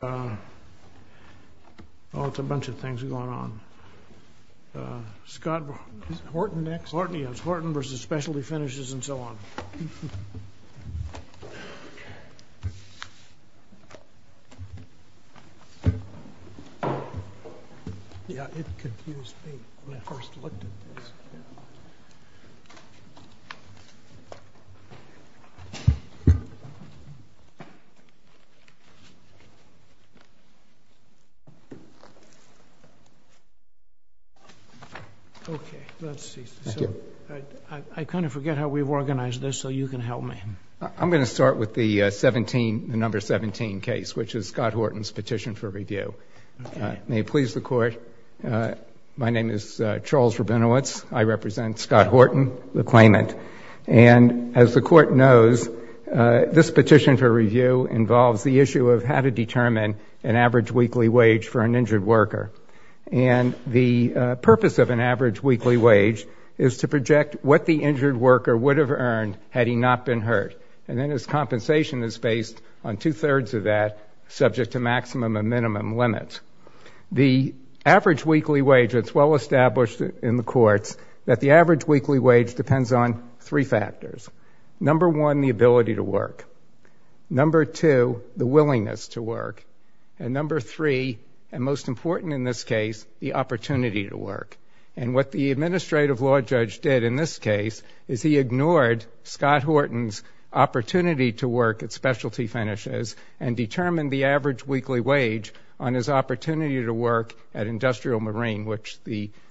Oh, it's a bunch of things going on. Scott Horton v. Specialty Finishes and so on. Okay. Let's see. Thank you. So, I kind of forget how we've organized this, so you can help me. I'm going to start with the 17, the number 17 case, which is Scott Horton's Petition for Review. Okay. May it please the Court. My name is Charles Rabinowitz. I represent Scott Horton, the claimant. And as the Court knows, this Petition for Review involves the issue of how to determine an average weekly wage for an injured worker. And the purpose of an average weekly wage is to project what the injured worker would have earned had he not been hurt. And then his compensation is based on two-thirds of that, subject to maximum and minimum limits. The average weekly wage, it's well established in the courts that the average weekly wage depends on three factors. Number one, the ability to work. Number two, the willingness to work. And number three, and most important in this case, the opportunity to work. And what the administrative law judge did in this case is he ignored Scott Horton's opportunity to work at Specialty Finishes and determined the average weekly wage on his opportunity to work at Industrial Marine, which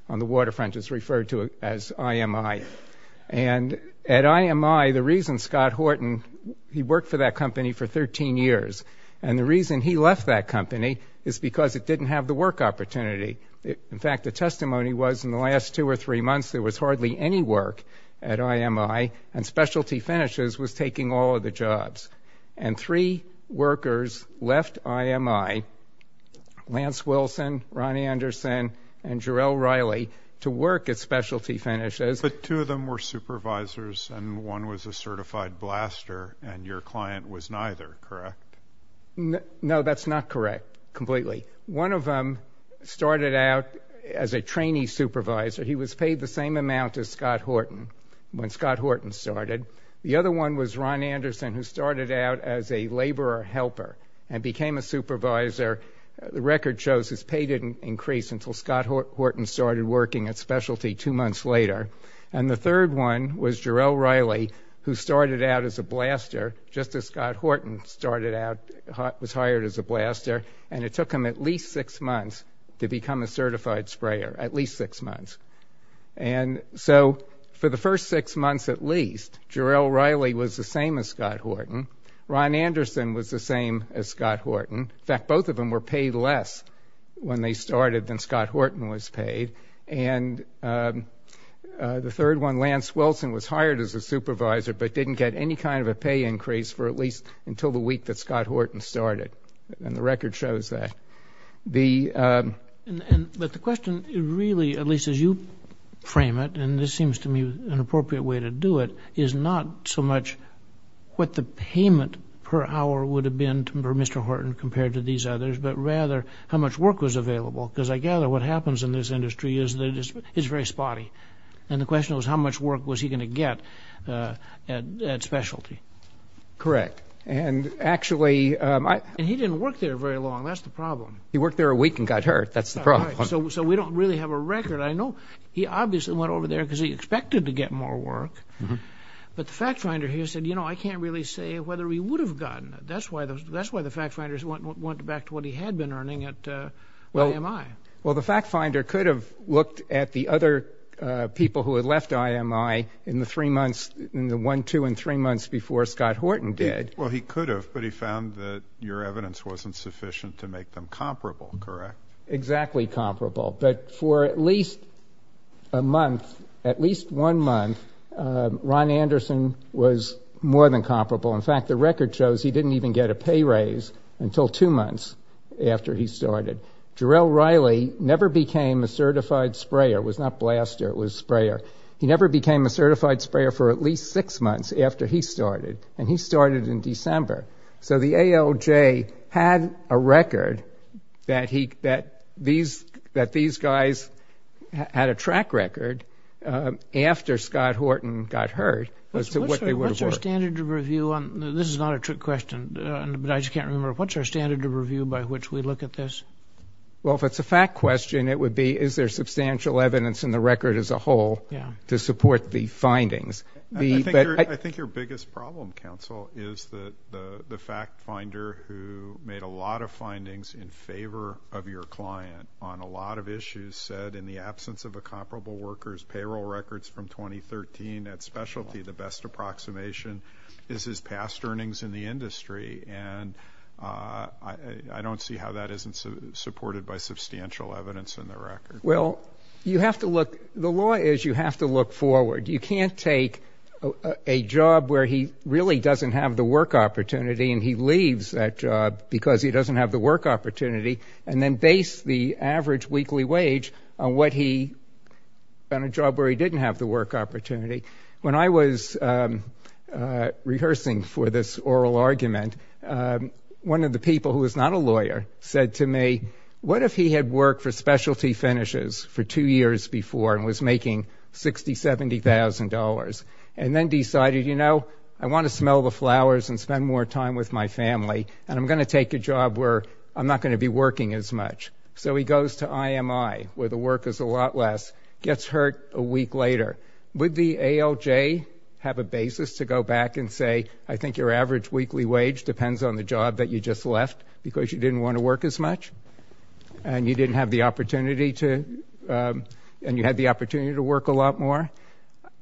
on the waterfront is referred to as And at IMI, the reason Scott Horton, he worked for that company for 13 years. And the reason he left that company is because it didn't have the work opportunity. In fact, the testimony was in the last two or three months, there was hardly any work at IMI, and Specialty Finishes was taking all of the jobs. And three workers left IMI, Lance Wilson, Ron Anderson, and Jerrell Riley, to work at Specialty Finishes. But two of them were supervisors, and one was a certified blaster, and your client was neither. Correct? No, that's not correct, completely. One of them started out as a trainee supervisor. He was paid the same amount as Scott Horton when Scott Horton started. The other one was Ron Anderson, who started out as a laborer helper and became a supervisor. The record shows his pay didn't increase until Scott Horton started working at Specialty Finishes two months later. And the third one was Jerrell Riley, who started out as a blaster, just as Scott Horton started out, was hired as a blaster. And it took him at least six months to become a certified sprayer, at least six months. And so for the first six months at least, Jerrell Riley was the same as Scott Horton. Ron Anderson was the same as Scott Horton. In fact, both of them were paid less when they started than Scott Horton was paid. And the third one, Lance Wilson, was hired as a supervisor, but didn't get any kind of a pay increase for at least until the week that Scott Horton started, and the record shows that. But the question really, at least as you frame it, and this seems to me an appropriate way to do it, is not so much what the payment per hour would have been for Mr. Horton compared to these others, but rather how much work was available, because I gather what happens in this industry is that it's very spotty. And the question was, how much work was he going to get at specialty? Correct. And actually... And he didn't work there very long, that's the problem. He worked there a week and got hurt, that's the problem. So we don't really have a record. I know he obviously went over there because he expected to get more work, but the fact finder here said, you know, I can't really say whether he would have gotten it. That's why the fact finders went back to what he had been earning at AMI. Well, the fact finder could have looked at the other people who had left AMI in the three months, in the one, two, and three months before Scott Horton did. Well, he could have, but he found that your evidence wasn't sufficient to make them comparable, correct? Exactly comparable, but for at least a month, at least one month, Ron Anderson was more than comparable. In fact, the record shows he didn't even get a pay raise until two months after he started. Jarrell Riley never became a certified sprayer, was not blaster, it was sprayer. He never became a certified sprayer for at least six months after he started, and he started in December. So the ALJ had a record that these guys had a track record after Scott Horton got hurt as to what they would have worked. What's our standard of review on, this is not a trick question, but I just can't remember, what's our standard of review by which we look at this? Well, if it's a fact question, it would be, is there substantial evidence in the record as a whole to support the findings? I think your biggest problem, counsel, is that the fact finder who made a lot of findings in favor of your client on a lot of issues said, in the absence of a comparable worker's payroll records from 2013 at specialty, the best approximation is his past earnings in the industry, and I don't see how that isn't supported by substantial evidence in the record. Well, you have to look, the law is you have to look forward. You can't take a job where he really doesn't have the work opportunity and he leaves that job because he doesn't have the work opportunity, and then base the average weekly wage on what he, on a job where he didn't have the work opportunity. When I was rehearsing for this oral argument, one of the people who was not a lawyer said to me, what if he had worked for specialty finishes for two years before and was making $60,000, $70,000, and then decided, you know, I want to smell the flowers and spend more time with my family, and I'm going to take a job where I'm not going to be working as much. So he goes to IMI, where the work is a lot less, gets hurt a week later. Would the ALJ have a basis to go back and say, I think your average weekly wage depends on the job that you just left because you didn't want to work as much, and you didn't have the opportunity to, and you had the opportunity to work a lot more?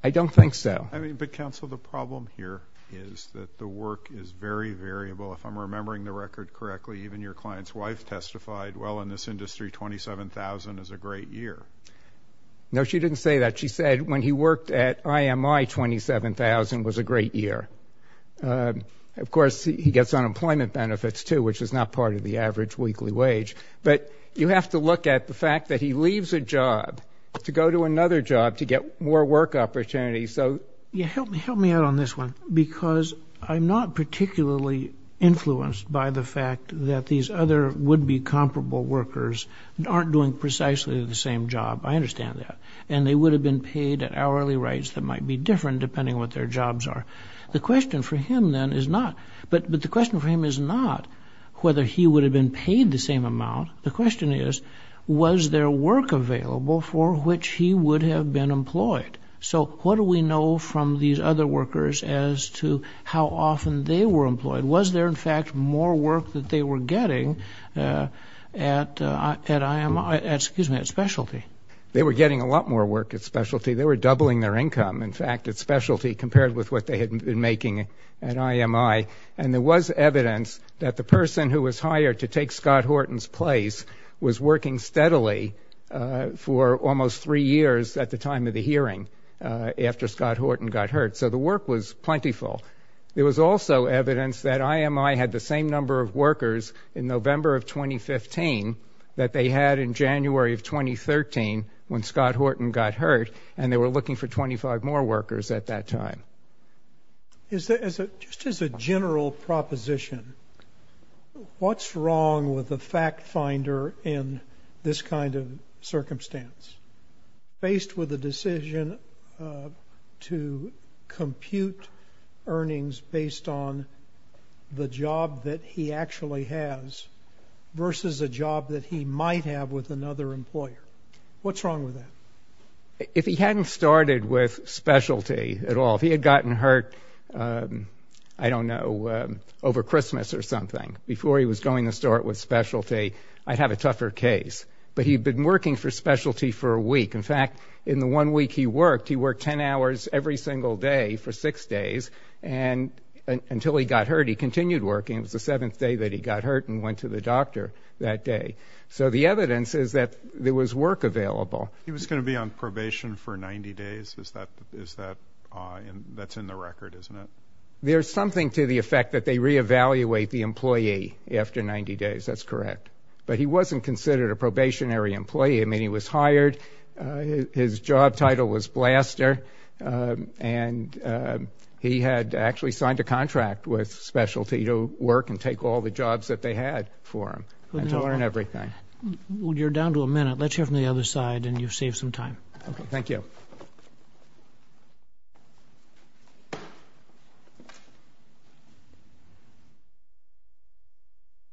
I don't think so. I mean, but counsel, the problem here is that the work is very variable. If I'm remembering the record correctly, even your client's wife testified, well, in this industry, $27,000 is a great year. No, she didn't say that. She said when he worked at IMI, $27,000 was a great year. Of course, he gets unemployment benefits, too, which is not part of the average weekly wage. But you have to look at the fact that he leaves a job to go to another job to get more work opportunities. So... Yeah, help me out on this one, because I'm not particularly influenced by the fact that these other would-be comparable workers aren't doing precisely the same job. I understand that. And they would have been paid at hourly rates that might be different, depending on what their jobs are. The question for him, then, is not, but the question for him is not whether he would have been paid the same amount. The question is, was there work available for which he would have been employed? So what do we know from these other workers as to how often they were employed? Was there, in fact, more work that they were getting at IMI, excuse me, at specialty? They were getting a lot more work at specialty. They were doubling their income, in fact, at specialty compared with what they had been making at IMI. And there was evidence that the person who was hired to take Scott Horton's place was working steadily for almost three years at the time of the hearing after Scott Horton got hurt. So the work was plentiful. There was also evidence that IMI had the same number of workers in November of 2015 that they had in January of 2013 when Scott Horton got hurt, and they were looking for 25 more workers at that time. Just as a general proposition, what's wrong with the fact finder in this kind of circumstance? Faced with the decision to compute earnings based on the job that he actually has versus a job that he might have with another employer, what's wrong with that? If he hadn't started with specialty at all, if he had gotten hurt, I don't know, over Christmas or something, before he was going to start with specialty, I'd have a tougher case. But he'd been working for specialty for a week. In fact, in the one week he worked, he worked 10 hours every single day for six days until he got hurt. He continued working. It was the seventh day that he got hurt and went to the doctor that day. So the evidence is that there was work available. He was going to be on probation for 90 days. That's in the record, isn't it? There's something to the effect that they re-evaluate the employee after 90 days. That's correct. But he wasn't considered a probationary employee. I mean, he was hired. His job title was blaster. And he had actually signed a contract with specialty to work and take all the jobs that they had for him and to learn everything. You're down to a minute. Let's hear from the other side, and you've saved some time. Thank you.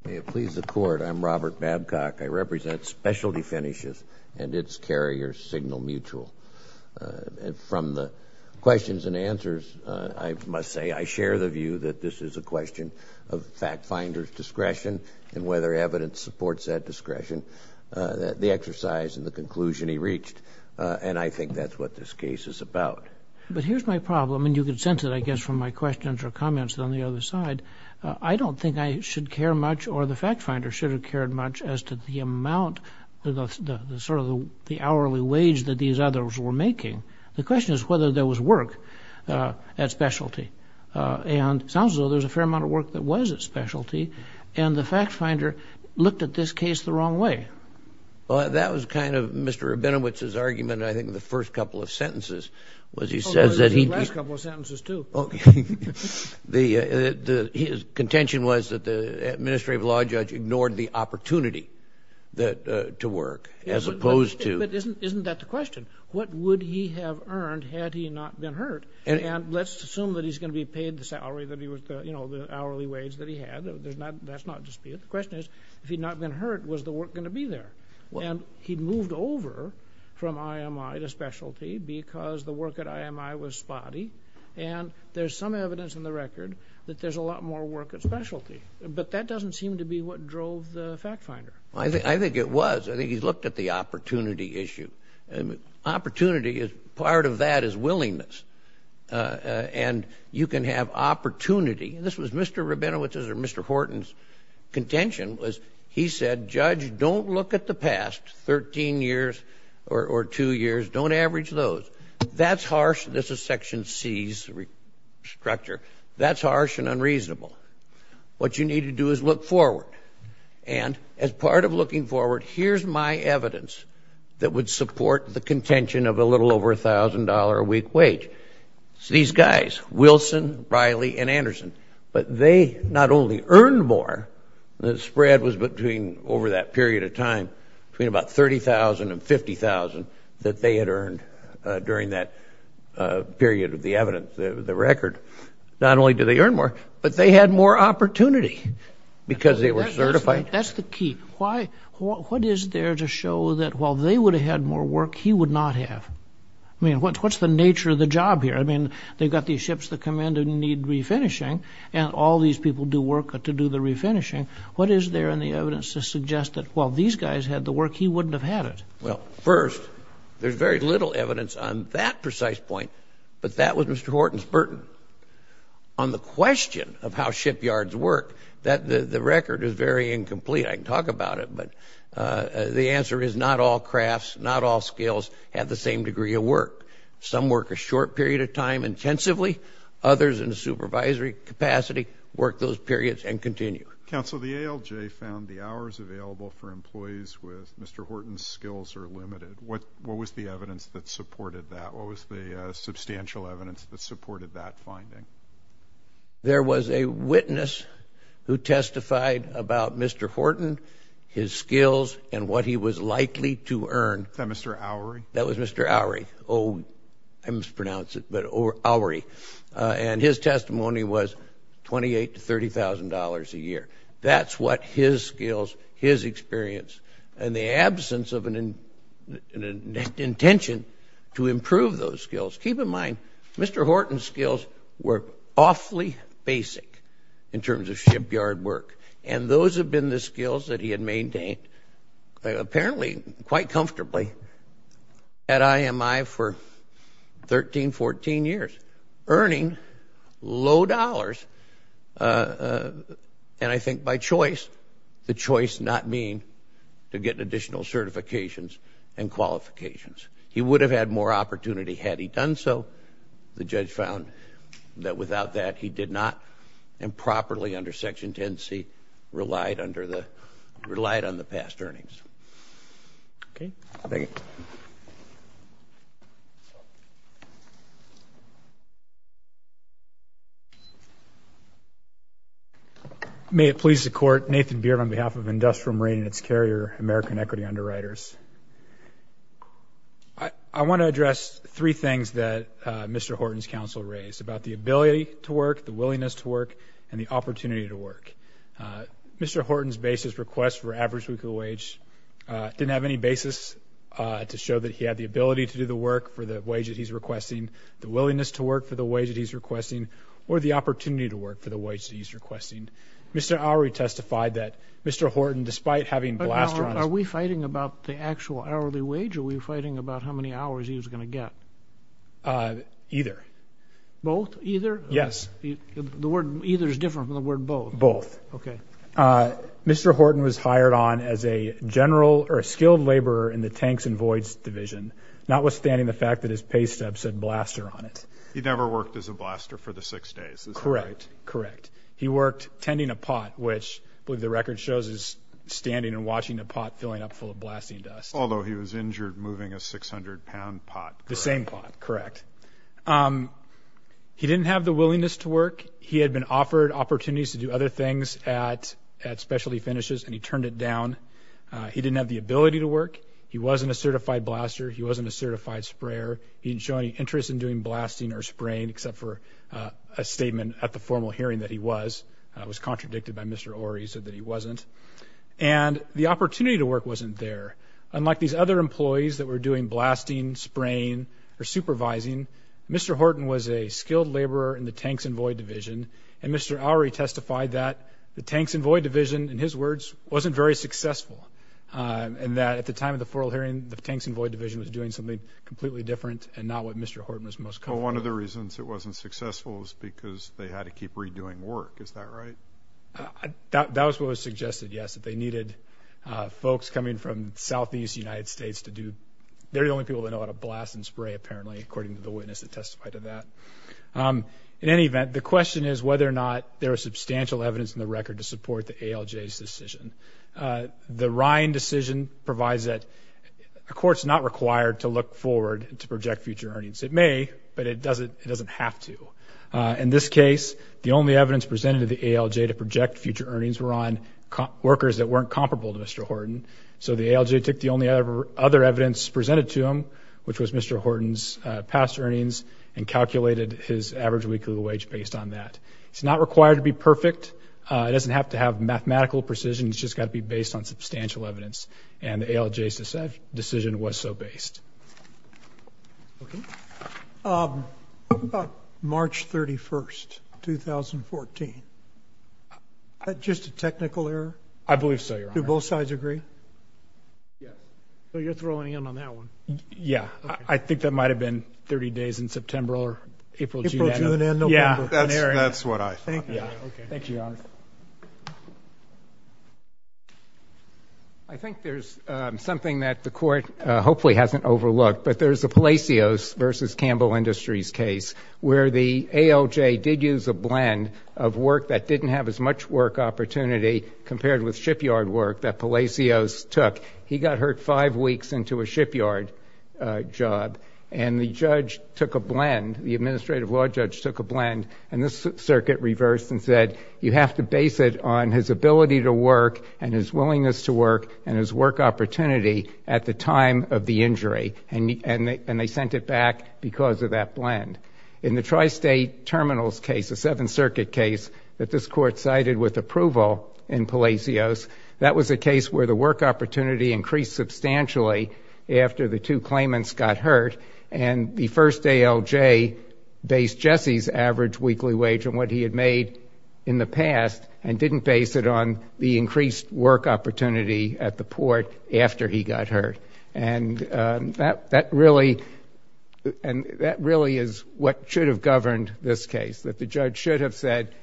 May it please the Court, I'm Robert Babcock. I represent Specialty Finishes and its carrier, Signal Mutual. And from the questions and answers, I must say, I share the view that this is a question of fact finder's discretion and whether evidence supports that discretion, the exercise and the conclusion he reached. And I think that's what this case is about. But here's my problem, and you can sense it, I guess, from my questions or comments on the other side. I don't think I should care much or the fact finder should have cared much as to the amount of sort of the hourly wage that these others were making. The question is whether there was work at specialty. And it sounds as though there's a fair amount of work that was at specialty, and the fact finder looked at this case the wrong way. Well, that was kind of Mr. Rabinowitz's argument, I think, in the first couple of sentences, was he says that he... Well, it was in the last couple of sentences, too. His contention was that the administrative law judge ignored the opportunity to work as opposed to... But isn't that the question? What would he have earned had he not been hurt? And let's assume that he's going to be paid the salary that he was, you know, the hourly wage that he had. That's not disputed. The question is, if he'd not been hurt, was the work going to be there? And he'd moved over from IMI to specialty because the work at IMI was spotty. And there's some evidence in the record that there's a lot more work at specialty. But that doesn't seem to be what drove the fact finder. I think it was. I think he looked at the opportunity issue. Opportunity is... Part of that is willingness. And you can have opportunity. This was Mr. Rabinowitz's or Mr. Horton's contention, was he said, judge, don't look at the past 13 years or two years, don't average those. That's harsh. This is Section C's structure. That's harsh and unreasonable. What you need to do is look forward. And as part of looking forward, here's my evidence that would support the contention of a little over $1,000 a week wage. These guys, Wilson, Riley, and Anderson, but they not only earned more, the spread was between, over that period of time, between about $30,000 and $50,000 that they had earned during that period of the evidence, the record. Not only did they earn more, but they had more opportunity because they were certified. That's the key. Why? What is there to show that while they would have had more work, he would not have? I mean, what's the nature of the job here? I mean, they've got these ships that come in and need refinishing, and all these people do work to do the refinishing. What is there in the evidence to suggest that while these guys had the work, he wouldn't have had it? Well, first, there's very little evidence on that precise point. But that was Mr. Horton's burden. On the question of how shipyards work, the record is very incomplete. I can talk about it, but the answer is not all crafts, not all skills, have the same degree of work. Some work a short period of time intensively, others in a supervisory capacity work those So the ALJ found the hours available for employees with Mr. Horton's skills are limited. What was the evidence that supported that? What was the substantial evidence that supported that finding? There was a witness who testified about Mr. Horton, his skills, and what he was likely to earn. That Mr. Oury? That was Mr. Oury. Oh, I mispronounced it, but Oury. And his testimony was $28,000 to $30,000 a year. That's what his skills, his experience, and the absence of an intention to improve those skills. Keep in mind, Mr. Horton's skills were awfully basic in terms of shipyard work. And those have been the skills that he had maintained, apparently quite comfortably, at IMI for 13, 14 years, earning low dollars. And I think by choice, the choice not being to get additional certifications and qualifications. He would have had more opportunity had he done so. The judge found that without that, he did not improperly under Section 10c relied on the past earnings. Okay. Thank you. May it please the Court, Nathan Beard on behalf of Industrial Marine and its carrier American Equity Underwriters. I want to address three things that Mr. Horton's counsel raised about the ability to work, the willingness to work, and the opportunity to work. Mr. Horton's basis request for average weekly wage didn't have any basis to show that he had the ability to do the work for the wage that he's requesting, the willingness to work for the wage that he's requesting, or the opportunity to work for the wage that he's requesting. Mr. Auri testified that Mr. Horton, despite having blasterized But now, are we fighting about the actual hourly wage, or are we fighting about how many hours he was going to get? Either. Both? Either? Yes. The word either is different from the word both. Both. Okay. Mr. Horton was hired on as a skilled laborer in the Tanks and Voids Division, notwithstanding the fact that his pay stub said blaster on it. He never worked as a blaster for the six days, is that right? Correct. Correct. He worked tending a pot, which, I believe the record shows, is standing and watching a pot filling up full of blasting dust. Although he was injured moving a 600-pound pot. The same pot, correct. He didn't have the willingness to work. He had been offered opportunities to do other things at specialty finishes, and he turned it down. He didn't have the ability to work. He wasn't a certified blaster. He wasn't a certified sprayer. He didn't show any interest in doing blasting or spraying, except for a statement at the formal hearing that he was. It was contradicted by Mr. Auri, he said that he wasn't. And the opportunity to work wasn't there. Unlike these other employees that were doing blasting, spraying, or supervising, Mr. Horton was a skilled laborer in the Tanks and Void Division, and Mr. Auri testified that the Tanks and Void Division, in his words, wasn't very successful. And that at the time of the formal hearing, the Tanks and Void Division was doing something completely different, and not what Mr. Horton was most comfortable with. Well, one of the reasons it wasn't successful was because they had to keep redoing work, is that right? That was what was suggested, yes, that they needed folks coming from Southeast United States to do, they're the only people that know how to blast and spray, apparently, according to the witness that testified to that. In any event, the question is whether or not there was substantial evidence in the record to support the ALJ's decision. The Ryan decision provides that a court's not required to look forward to project future earnings. It may, but it doesn't have to. In this case, the only evidence presented to the ALJ to project future earnings were on workers that weren't comparable to Mr. Horton. So the ALJ took the only other evidence presented to him, which was Mr. Horton's past earnings, and calculated his average weekly wage based on that. It's not required to be perfect. It doesn't have to have mathematical precision. It's just got to be based on substantial evidence. And the ALJ's decision was so based. Okay. What about March 31st, 2014? Is that just a technical error? I believe so, Your Honor. Do both sides agree? Yeah. So you're throwing in on that one. Yeah. I think that might have been 30 days in September or April, June, and November. Yeah. That's what I thought. Yeah. Okay. Thank you, Your Honor. I think there's something that the court hopefully hasn't overlooked, but there's a Palacios versus Campbell Industries case where the ALJ did use a blend of work that didn't have as much work opportunity compared with shipyard work that Palacios took. He got hurt five weeks into a shipyard job, and the judge took a blend, the administrative law judge took a blend, and this circuit reversed and said, you have to base it on his ability to work and his willingness to work and his work opportunity at the time of the injury. And they sent it back because of that blend. In the tri-state terminals case, the Seventh Circuit case that this court cited with approval in Palacios, that was a case where the work opportunity increased substantially after the two claimants got hurt, and the first ALJ based Jesse's average weekly wage on what he had made in the past and didn't base it on the increased work opportunity at the port after he got hurt. And that really is what should have governed this case, that the judge should have said,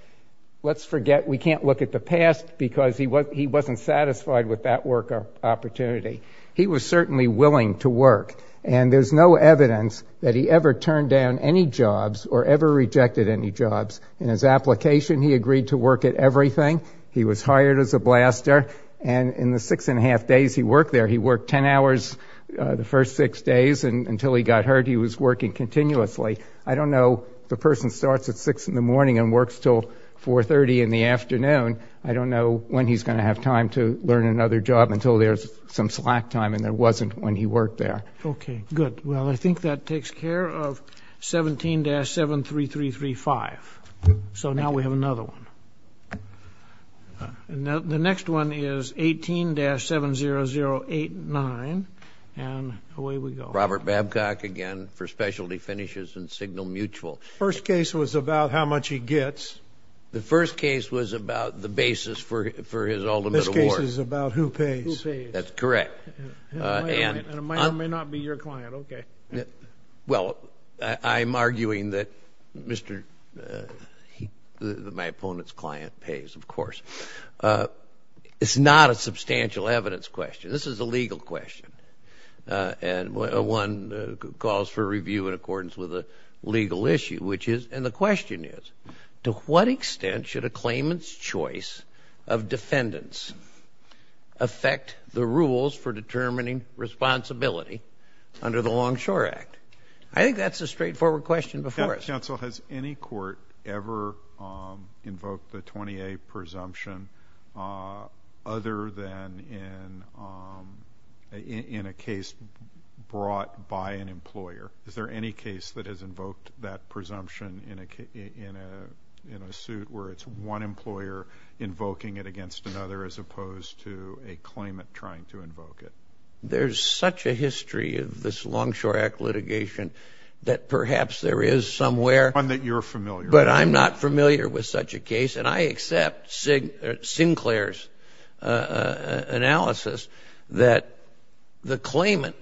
let's forget we can't look at the past because he wasn't satisfied with that work opportunity. He was certainly willing to work, and there's no evidence that he ever turned down any jobs or ever rejected any jobs. In his application, he agreed to work at everything. He was hired as a blaster, and in the six and a half days he worked there, he worked ten hours the first six days, and until he got hurt he was working continuously. I don't know, the person starts at six in the morning and works until 4.30 in the afternoon, I don't know when he's going to have time to learn another job until there's some slack time and there wasn't when he worked there. Okay, good. Well, I think that takes care of 17-73335. So now we have another one. And the next one is 18-70089, and away we go. Robert Babcock again for Specialty Finishes and Signal Mutual. First case was about how much he gets. The first case was about the basis for his ultimate award. This case is about who pays. Who pays. That's correct. And it may or may not be your client, okay. Well, I'm arguing that my opponent's client pays, of course. It's not a substantial evidence question. This is a legal question, and one calls for review in accordance with a legal issue, which is, and the question is, to what extent should a claimant's choice of defendants affect the Longshore Act? I think that's a straightforward question before us. Counsel, has any court ever invoked the 20A presumption other than in a case brought by an employer? Is there any case that has invoked that presumption in a suit where it's one employer invoking it against another as opposed to a claimant trying to invoke it? There's such a history of this Longshore Act litigation that perhaps there is somewhere One that you're familiar with. But I'm not familiar with such a case, and I accept Sinclair's analysis that the claimant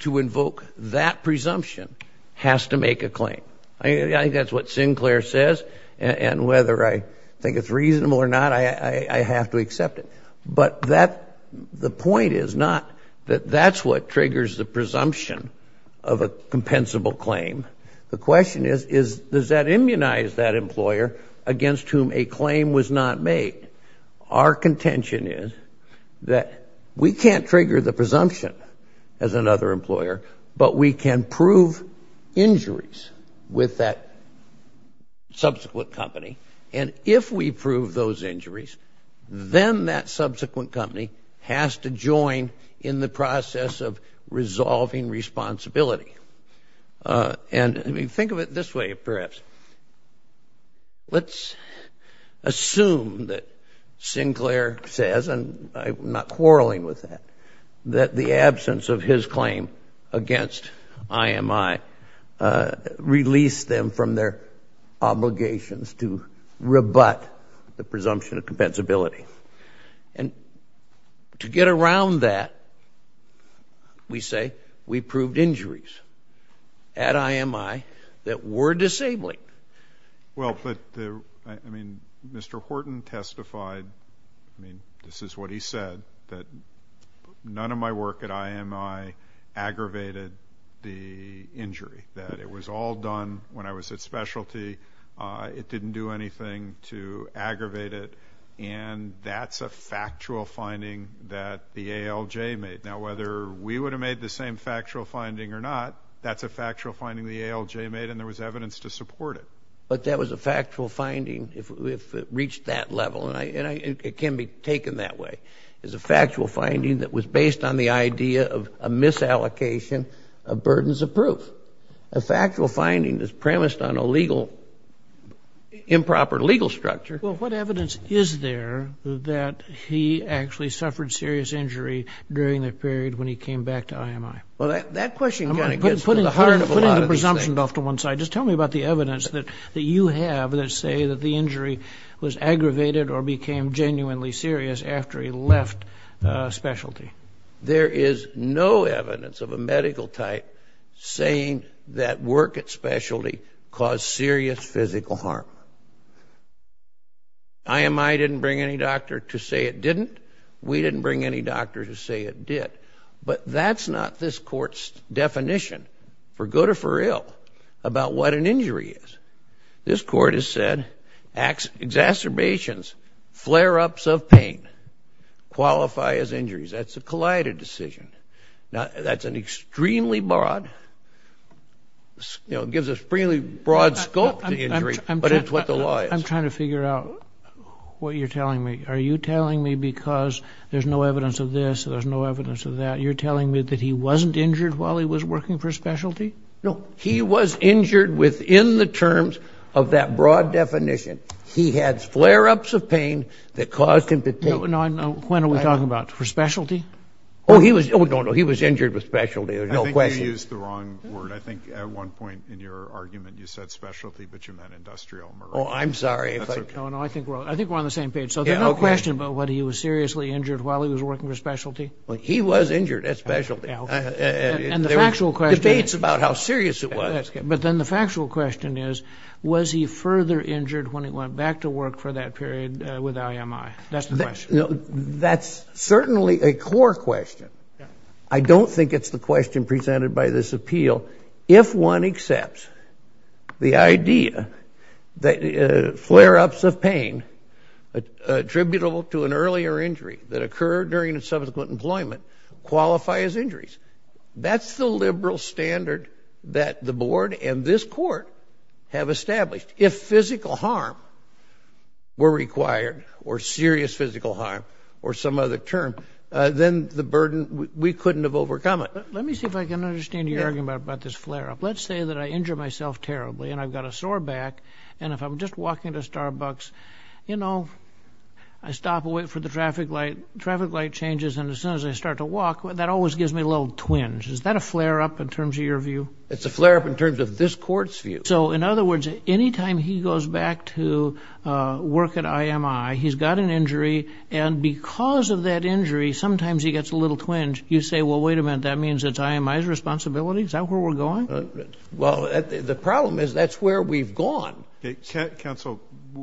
to invoke that presumption has to make a claim. I think that's what Sinclair says, and whether I think it's reasonable or not, I have to accept it. But the point is not that that's what triggers the presumption of a compensable claim. The question is, does that immunize that employer against whom a claim was not made? Our contention is that we can't trigger the presumption as another employer, but we can prove injuries with that subsequent company. And if we prove those injuries, then that subsequent company has to join in the process of resolving responsibility. And I mean, think of it this way, perhaps. Let's assume that Sinclair says, and I'm not quarreling with that, that the absence of rebut the presumption of compensability. And to get around that, we say we proved injuries at IMI that were disabling. Well, but I mean, Mr. Horton testified, I mean, this is what he said, that none of my work at IMI aggravated the injury, that it was all done when I was at specialty, it didn't do anything to aggravate it, and that's a factual finding that the ALJ made. Now, whether we would have made the same factual finding or not, that's a factual finding the ALJ made, and there was evidence to support it. But that was a factual finding if it reached that level, and it can be taken that way. It's a factual finding that was based on the idea of a misallocation of burdens of proof. A factual finding that's premised on a legal, improper legal structure. Well, what evidence is there that he actually suffered serious injury during the period when he came back to IMI? Well, that question kind of gets to the heart of a lot of this thing. I'm putting the presumption off to one side. Just tell me about the evidence that you have that say that the injury was aggravated or became genuinely serious after he left specialty. There is no evidence of a medical type saying that work at specialty caused serious physical harm. IMI didn't bring any doctor to say it didn't. We didn't bring any doctor to say it did. But that's not this court's definition, for good or for ill, about what an injury is. This court has said exacerbations, flare-ups of pain, qualify as injuries. That's a collided decision. Now, that's an extremely broad, you know, it gives an extremely broad scope to injury, but it's what the law is. I'm trying to figure out what you're telling me. Are you telling me because there's no evidence of this, there's no evidence of that, you're telling me that he wasn't injured while he was working for specialty? No. He was injured within the terms of that broad definition. He had flare-ups of pain that caused him to take— When are we talking about? For specialty? Oh, no, no. He was injured with specialty. There's no question. I think you used the wrong word. I think at one point in your argument, you said specialty, but you meant industrial murder. Oh, I'm sorry. That's okay. No, no, I think we're on the same page. So there's no question about whether he was seriously injured while he was working for specialty. He was injured at specialty. And the factual question— It debates about how serious it was. But then the factual question is, was he further injured when he went back to work for that period with IMI? That's the question. That's certainly a core question. I don't think it's the question presented by this appeal. If one accepts the idea that flare-ups of pain attributable to an earlier injury that occurred during subsequent employment qualify as injuries, that's the liberal standard that the board and this court have established. If physical harm were required, or serious physical harm, or some other term, then the burden—we couldn't have overcome it. Let me see if I can understand your argument about this flare-up. Let's say that I injure myself terribly and I've got a sore back, and if I'm just walking to Starbucks, you know, I stop and wait for the traffic light. Traffic light changes, and as soon as I start to walk, that always gives me a little twinge. Is that a flare-up in terms of your view? It's a flare-up in terms of this court's view. So, in other words, any time he goes back to work at IMI, he's got an injury, and because of that injury, sometimes he gets a little twinge. You say, well, wait a minute. That means it's IMI's responsibility? Is that where we're going? Well, the problem is that's where we've gone. Counsel,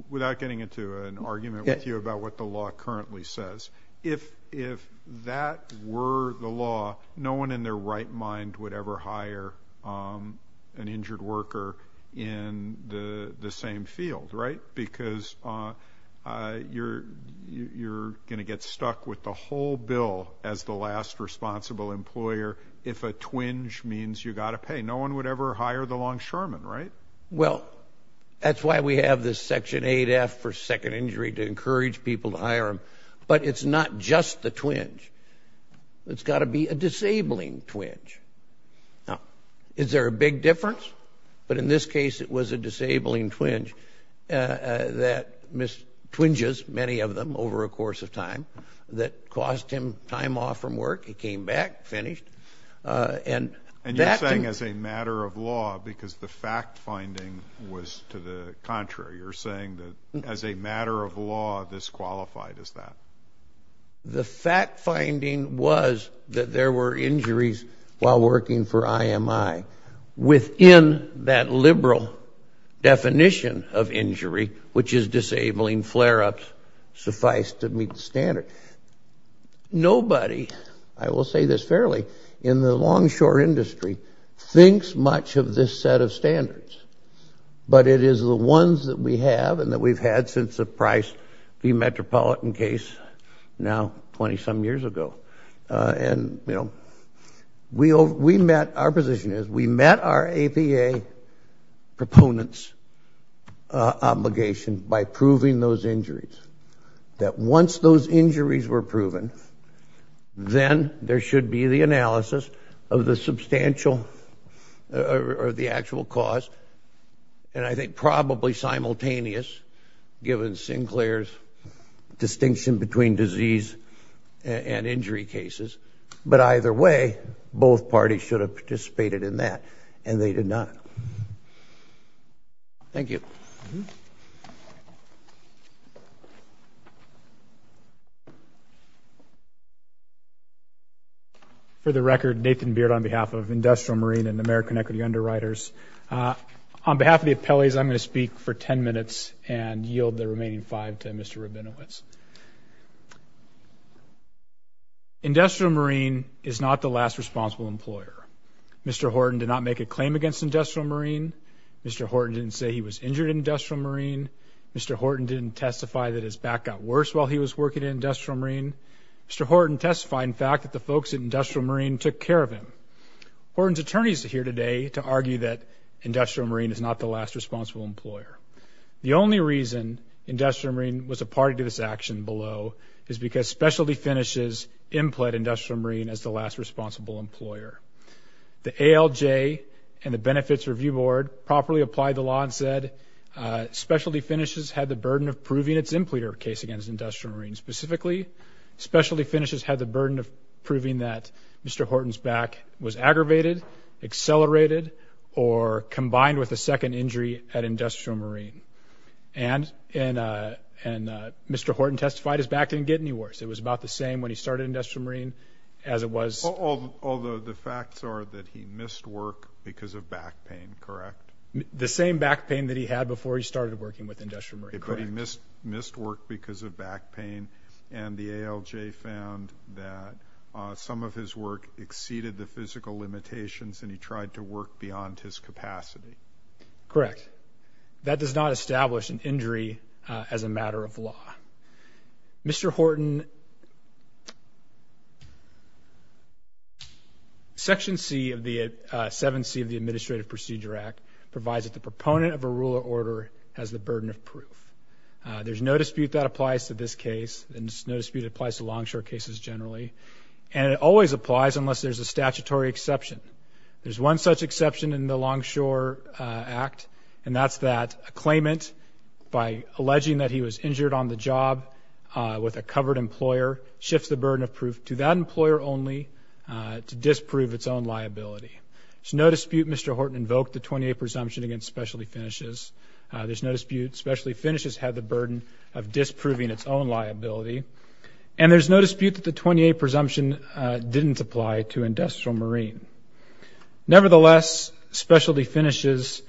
without getting into an argument with you about what the law currently says, if that were the law, no one in their right mind would ever hire an injured worker in the same field, right? Because you're going to get stuck with the whole bill as the last responsible employer if a twinge means you've got to pay. No one would ever hire the longshoreman, right? Well, that's why we have this Section 8F for second injury to encourage people to hire him. But it's not just the twinge. It's got to be a disabling twinge. Now, is there a big difference? But in this case, it was a disabling twinge that missed twinges, many of them, over a course of time that cost him time off from work. He came back, finished. And that can... And you're saying as a matter of law because the fact-finding was to the contrary. You're saying that as a matter of law, this qualified as that. The fact-finding was that there were injuries while working for IMI. Within that liberal definition of injury, which is disabling flare-ups, suffice to meet the standard. Nobody, I will say this fairly, in the longshore industry thinks much of this set of standards. But it is the ones that we have and that we've had since the Price v. Metropolitan case, now 20-some years ago. And you know, we met... Our position is we met our APA proponents' obligation by proving those injuries. That once those injuries were proven, then there should be the analysis of the substantial or the actual cost. And I think probably simultaneous, given Sinclair's distinction between disease and injury cases. But either way, both parties should have participated in that. And they did not. Thank you. For the record, Nathan Beard on behalf of Industrial Marine and American Equity Underwriters. On behalf of the appellees, I'm going to speak for 10 minutes and yield the remaining five to Mr. Rabinowitz. Industrial Marine is not the last responsible employer. Mr. Horton did not make a claim against Industrial Marine. Mr. Horton didn't say he was injured at Industrial Marine. Mr. Horton didn't testify that his back got worse while he was working at Industrial Marine. Mr. Horton testified, in fact, that the folks at Industrial Marine took care of him. Horton's attorneys are here today to argue that Industrial Marine is not the last responsible employer. The only reason Industrial Marine was a party to this action below is because specialty finishes impled Industrial Marine as the last responsible employer. The ALJ and the Benefits Review Board properly applied the law and said specialty finishes had the burden of proving its impleter case against Industrial Marine. Specifically, specialty finishes had the burden of proving that Mr. Horton's back was aggravated, accelerated, or combined with a second injury at Industrial Marine. And Mr. Horton testified his back didn't get any worse. It was about the same when he started Industrial Marine as it was – Although the facts are that he missed work because of back pain, correct? The same back pain that he had before he started working with Industrial Marine, correct. But he missed work because of back pain, and the ALJ found that some of his work exceeded the physical limitations, and he tried to work beyond his capacity. Correct. Mr. Horton, Section 7C of the Administrative Procedure Act provides that the proponent of a rule or order has the burden of proof. There's no dispute that applies to this case, and there's no dispute that applies to longshore cases generally, and it always applies unless there's a statutory exception. There's one such exception in the Longshore Act, and that's that a claimant, by alleging that he was injured on the job with a covered employer, shifts the burden of proof to that employer only to disprove its own liability. There's no dispute Mr. Horton invoked the 28 presumption against specialty finishes. There's no dispute specialty finishes had the burden of disproving its own liability. And there's no dispute that the 28 presumption didn't apply to Industrial Marine. Nevertheless, specialty finishes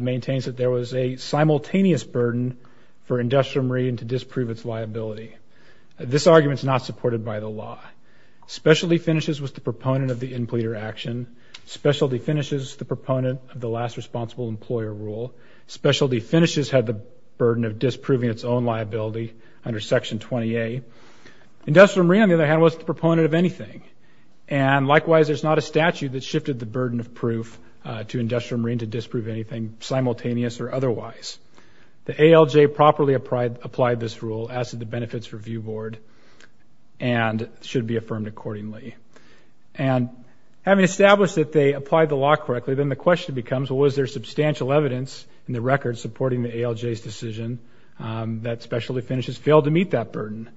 maintains that there was a simultaneous burden for Industrial Marine to disprove its liability. This argument's not supported by the law. Specialty finishes was the proponent of the employer action. Specialty finishes the proponent of the last responsible employer rule. Specialty finishes had the burden of disproving its own liability under Section 20A. Industrial Marine, on the other hand, was the proponent of anything. And likewise, there's not a statute that shifted the burden of proof to Industrial Marine to disprove anything simultaneous or otherwise. The ALJ properly applied this rule as to the benefits review board and should be affirmed accordingly. And having established that they applied the law correctly, then the question becomes, well, was there substantial evidence in the record supporting the ALJ's decision that specialty finishes failed to meet that burden?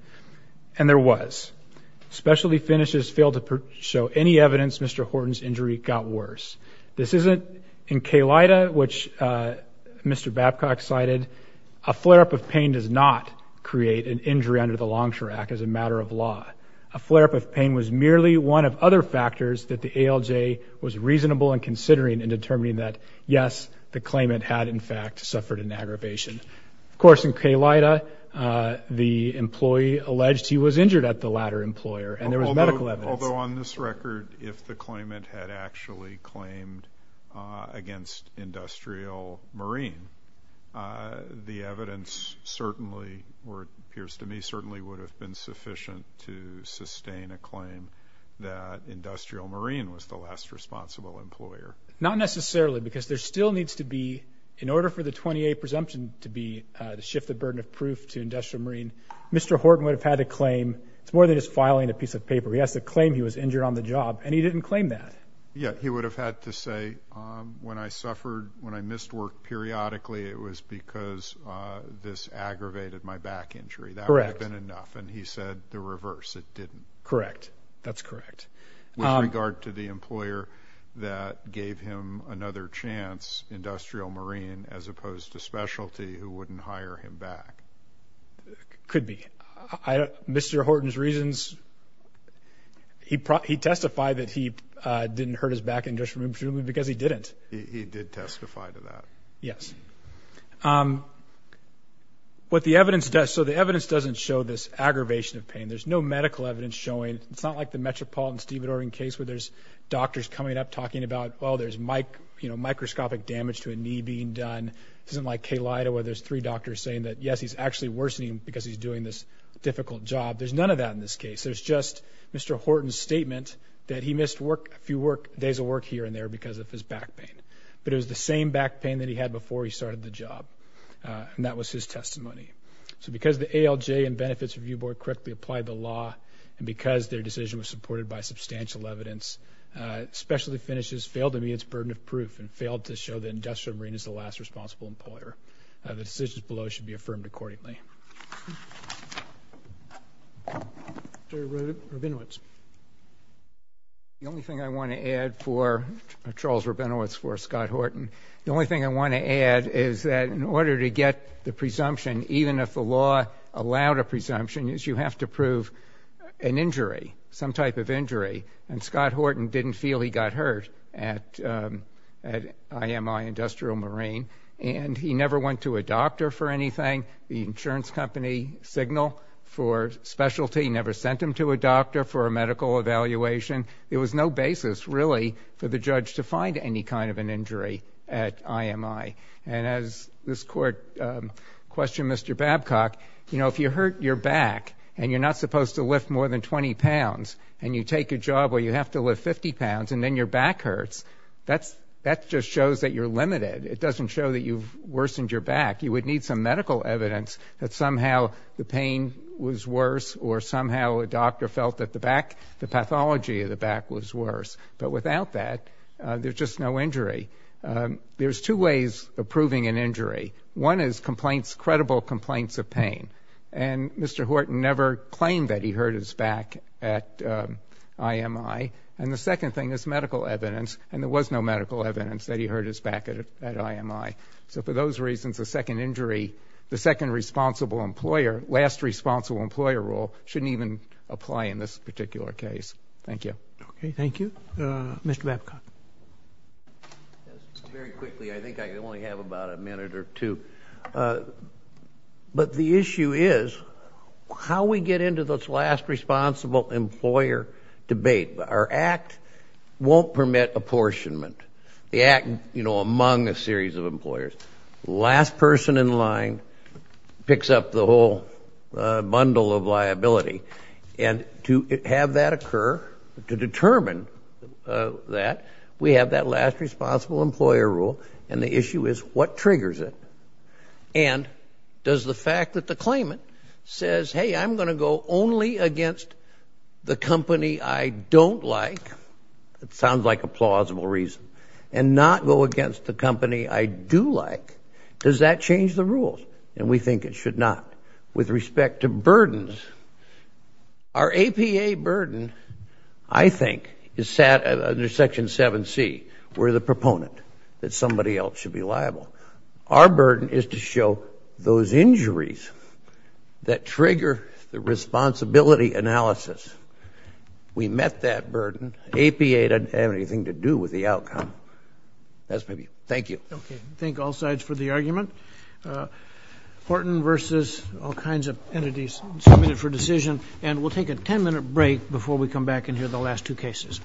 And there was. Specialty finishes failed to show any evidence Mr. Horton's injury got worse. This isn't in K-LIDA, which Mr. Babcock cited, a flare-up of pain does not create an injury under the Longshore Act as a matter of law. A flare-up of pain was merely one of other factors that the ALJ was reasonable in considering and determining that, yes, the claimant had, in fact, suffered an aggravation. Of course, in K-LIDA, the employee alleged he was injured at the latter employer and there was medical evidence. Although on this record, if the claimant had actually claimed against Industrial Marine, the evidence certainly, or it appears to me, certainly would have been sufficient to sustain a claim that Industrial Marine was the last responsible employer. Not necessarily, because there still needs to be, in order for the 20A presumption to be the shift of burden of proof to Industrial Marine, Mr. Horton would have had to claim, it's more than just filing a piece of paper, he has to claim he was injured on the job and he didn't claim that. Yeah, he would have had to say, when I suffered, when I missed work periodically, it was because this aggravated my back injury. That would have been enough. Correct. And he said the reverse, it didn't. Correct. That's correct. With regard to the employer that gave him another chance, Industrial Marine, as opposed to specialty, who wouldn't hire him back. Could be. Mr. Horton's reasons, he testified that he didn't hurt his back injury because he didn't. He did testify to that. Yes. What the evidence does, so the evidence doesn't show this aggravation of pain, there's no fact the Metropolitan-Stevenson case where there's doctors coming up talking about, well, there's microscopic damage to a knee being done, this isn't like Kay Lida where there's three doctors saying that, yes, he's actually worsening because he's doing this difficult job. There's none of that in this case. There's just Mr. Horton's statement that he missed a few days of work here and there because of his back pain. But it was the same back pain that he had before he started the job and that was his testimony. So because the ALJ and Benefits Review Board correctly applied the law and because their decision was supported by substantial evidence, specialty finishes failed to meet its burden of proof and failed to show that Industrial Marine is the last responsible employer. The decisions below should be affirmed accordingly. Mr. Rabinowitz. The only thing I want to add for Charles Rabinowitz, for Scott Horton, the only thing I want to add is that in order to get the presumption, even if the law allowed a presumption, is you have to prove an injury, some type of injury. And Scott Horton didn't feel he got hurt at IMI Industrial Marine. And he never went to a doctor for anything. The insurance company signal for specialty never sent him to a doctor for a medical evaluation. It was no basis, really, for the judge to find any kind of an injury at IMI. And as this court questioned Mr. Babcock, you know, if you hurt your back and you're not supposed to lift more than 20 pounds and you take a job where you have to lift 50 pounds and then your back hurts, that just shows that you're limited. It doesn't show that you've worsened your back. You would need some medical evidence that somehow the pain was worse or somehow a doctor felt that the back, the pathology of the back was worse. But without that, there's just no injury. There's two ways of proving an injury. One is complaints, credible complaints of pain. And Mr. Horton never claimed that he hurt his back at IMI. And the second thing is medical evidence. And there was no medical evidence that he hurt his back at IMI. So for those reasons, the second injury, the second responsible employer, last responsible employer rule shouldn't even apply in this particular case. Thank you. Okay. Thank you. Thank you. Mr. Babcock. Very quickly, I think I only have about a minute or two. But the issue is how we get into this last responsible employer debate. Our act won't permit apportionment. The act, you know, among a series of employers. Last person in line picks up the whole bundle of liability. And to have that occur, to determine that, we have that last responsible employer rule. And the issue is what triggers it. And does the fact that the claimant says, hey, I'm going to go only against the company I don't like, it sounds like a plausible reason, and not go against the company I do like, does that change the rules? And we think it should not. With respect to burdens, our APA burden, I think, is set under Section 7C, we're the proponent that somebody else should be liable. Our burden is to show those injuries that trigger the responsibility analysis. We met that burden. APA doesn't have anything to do with the outcome. That's my view. Thank you. Okay. Thank all sides for the argument. Horton versus all kinds of entities submitted for decision. And we'll take a 10-minute break before we come back and hear the last two cases. Thank you.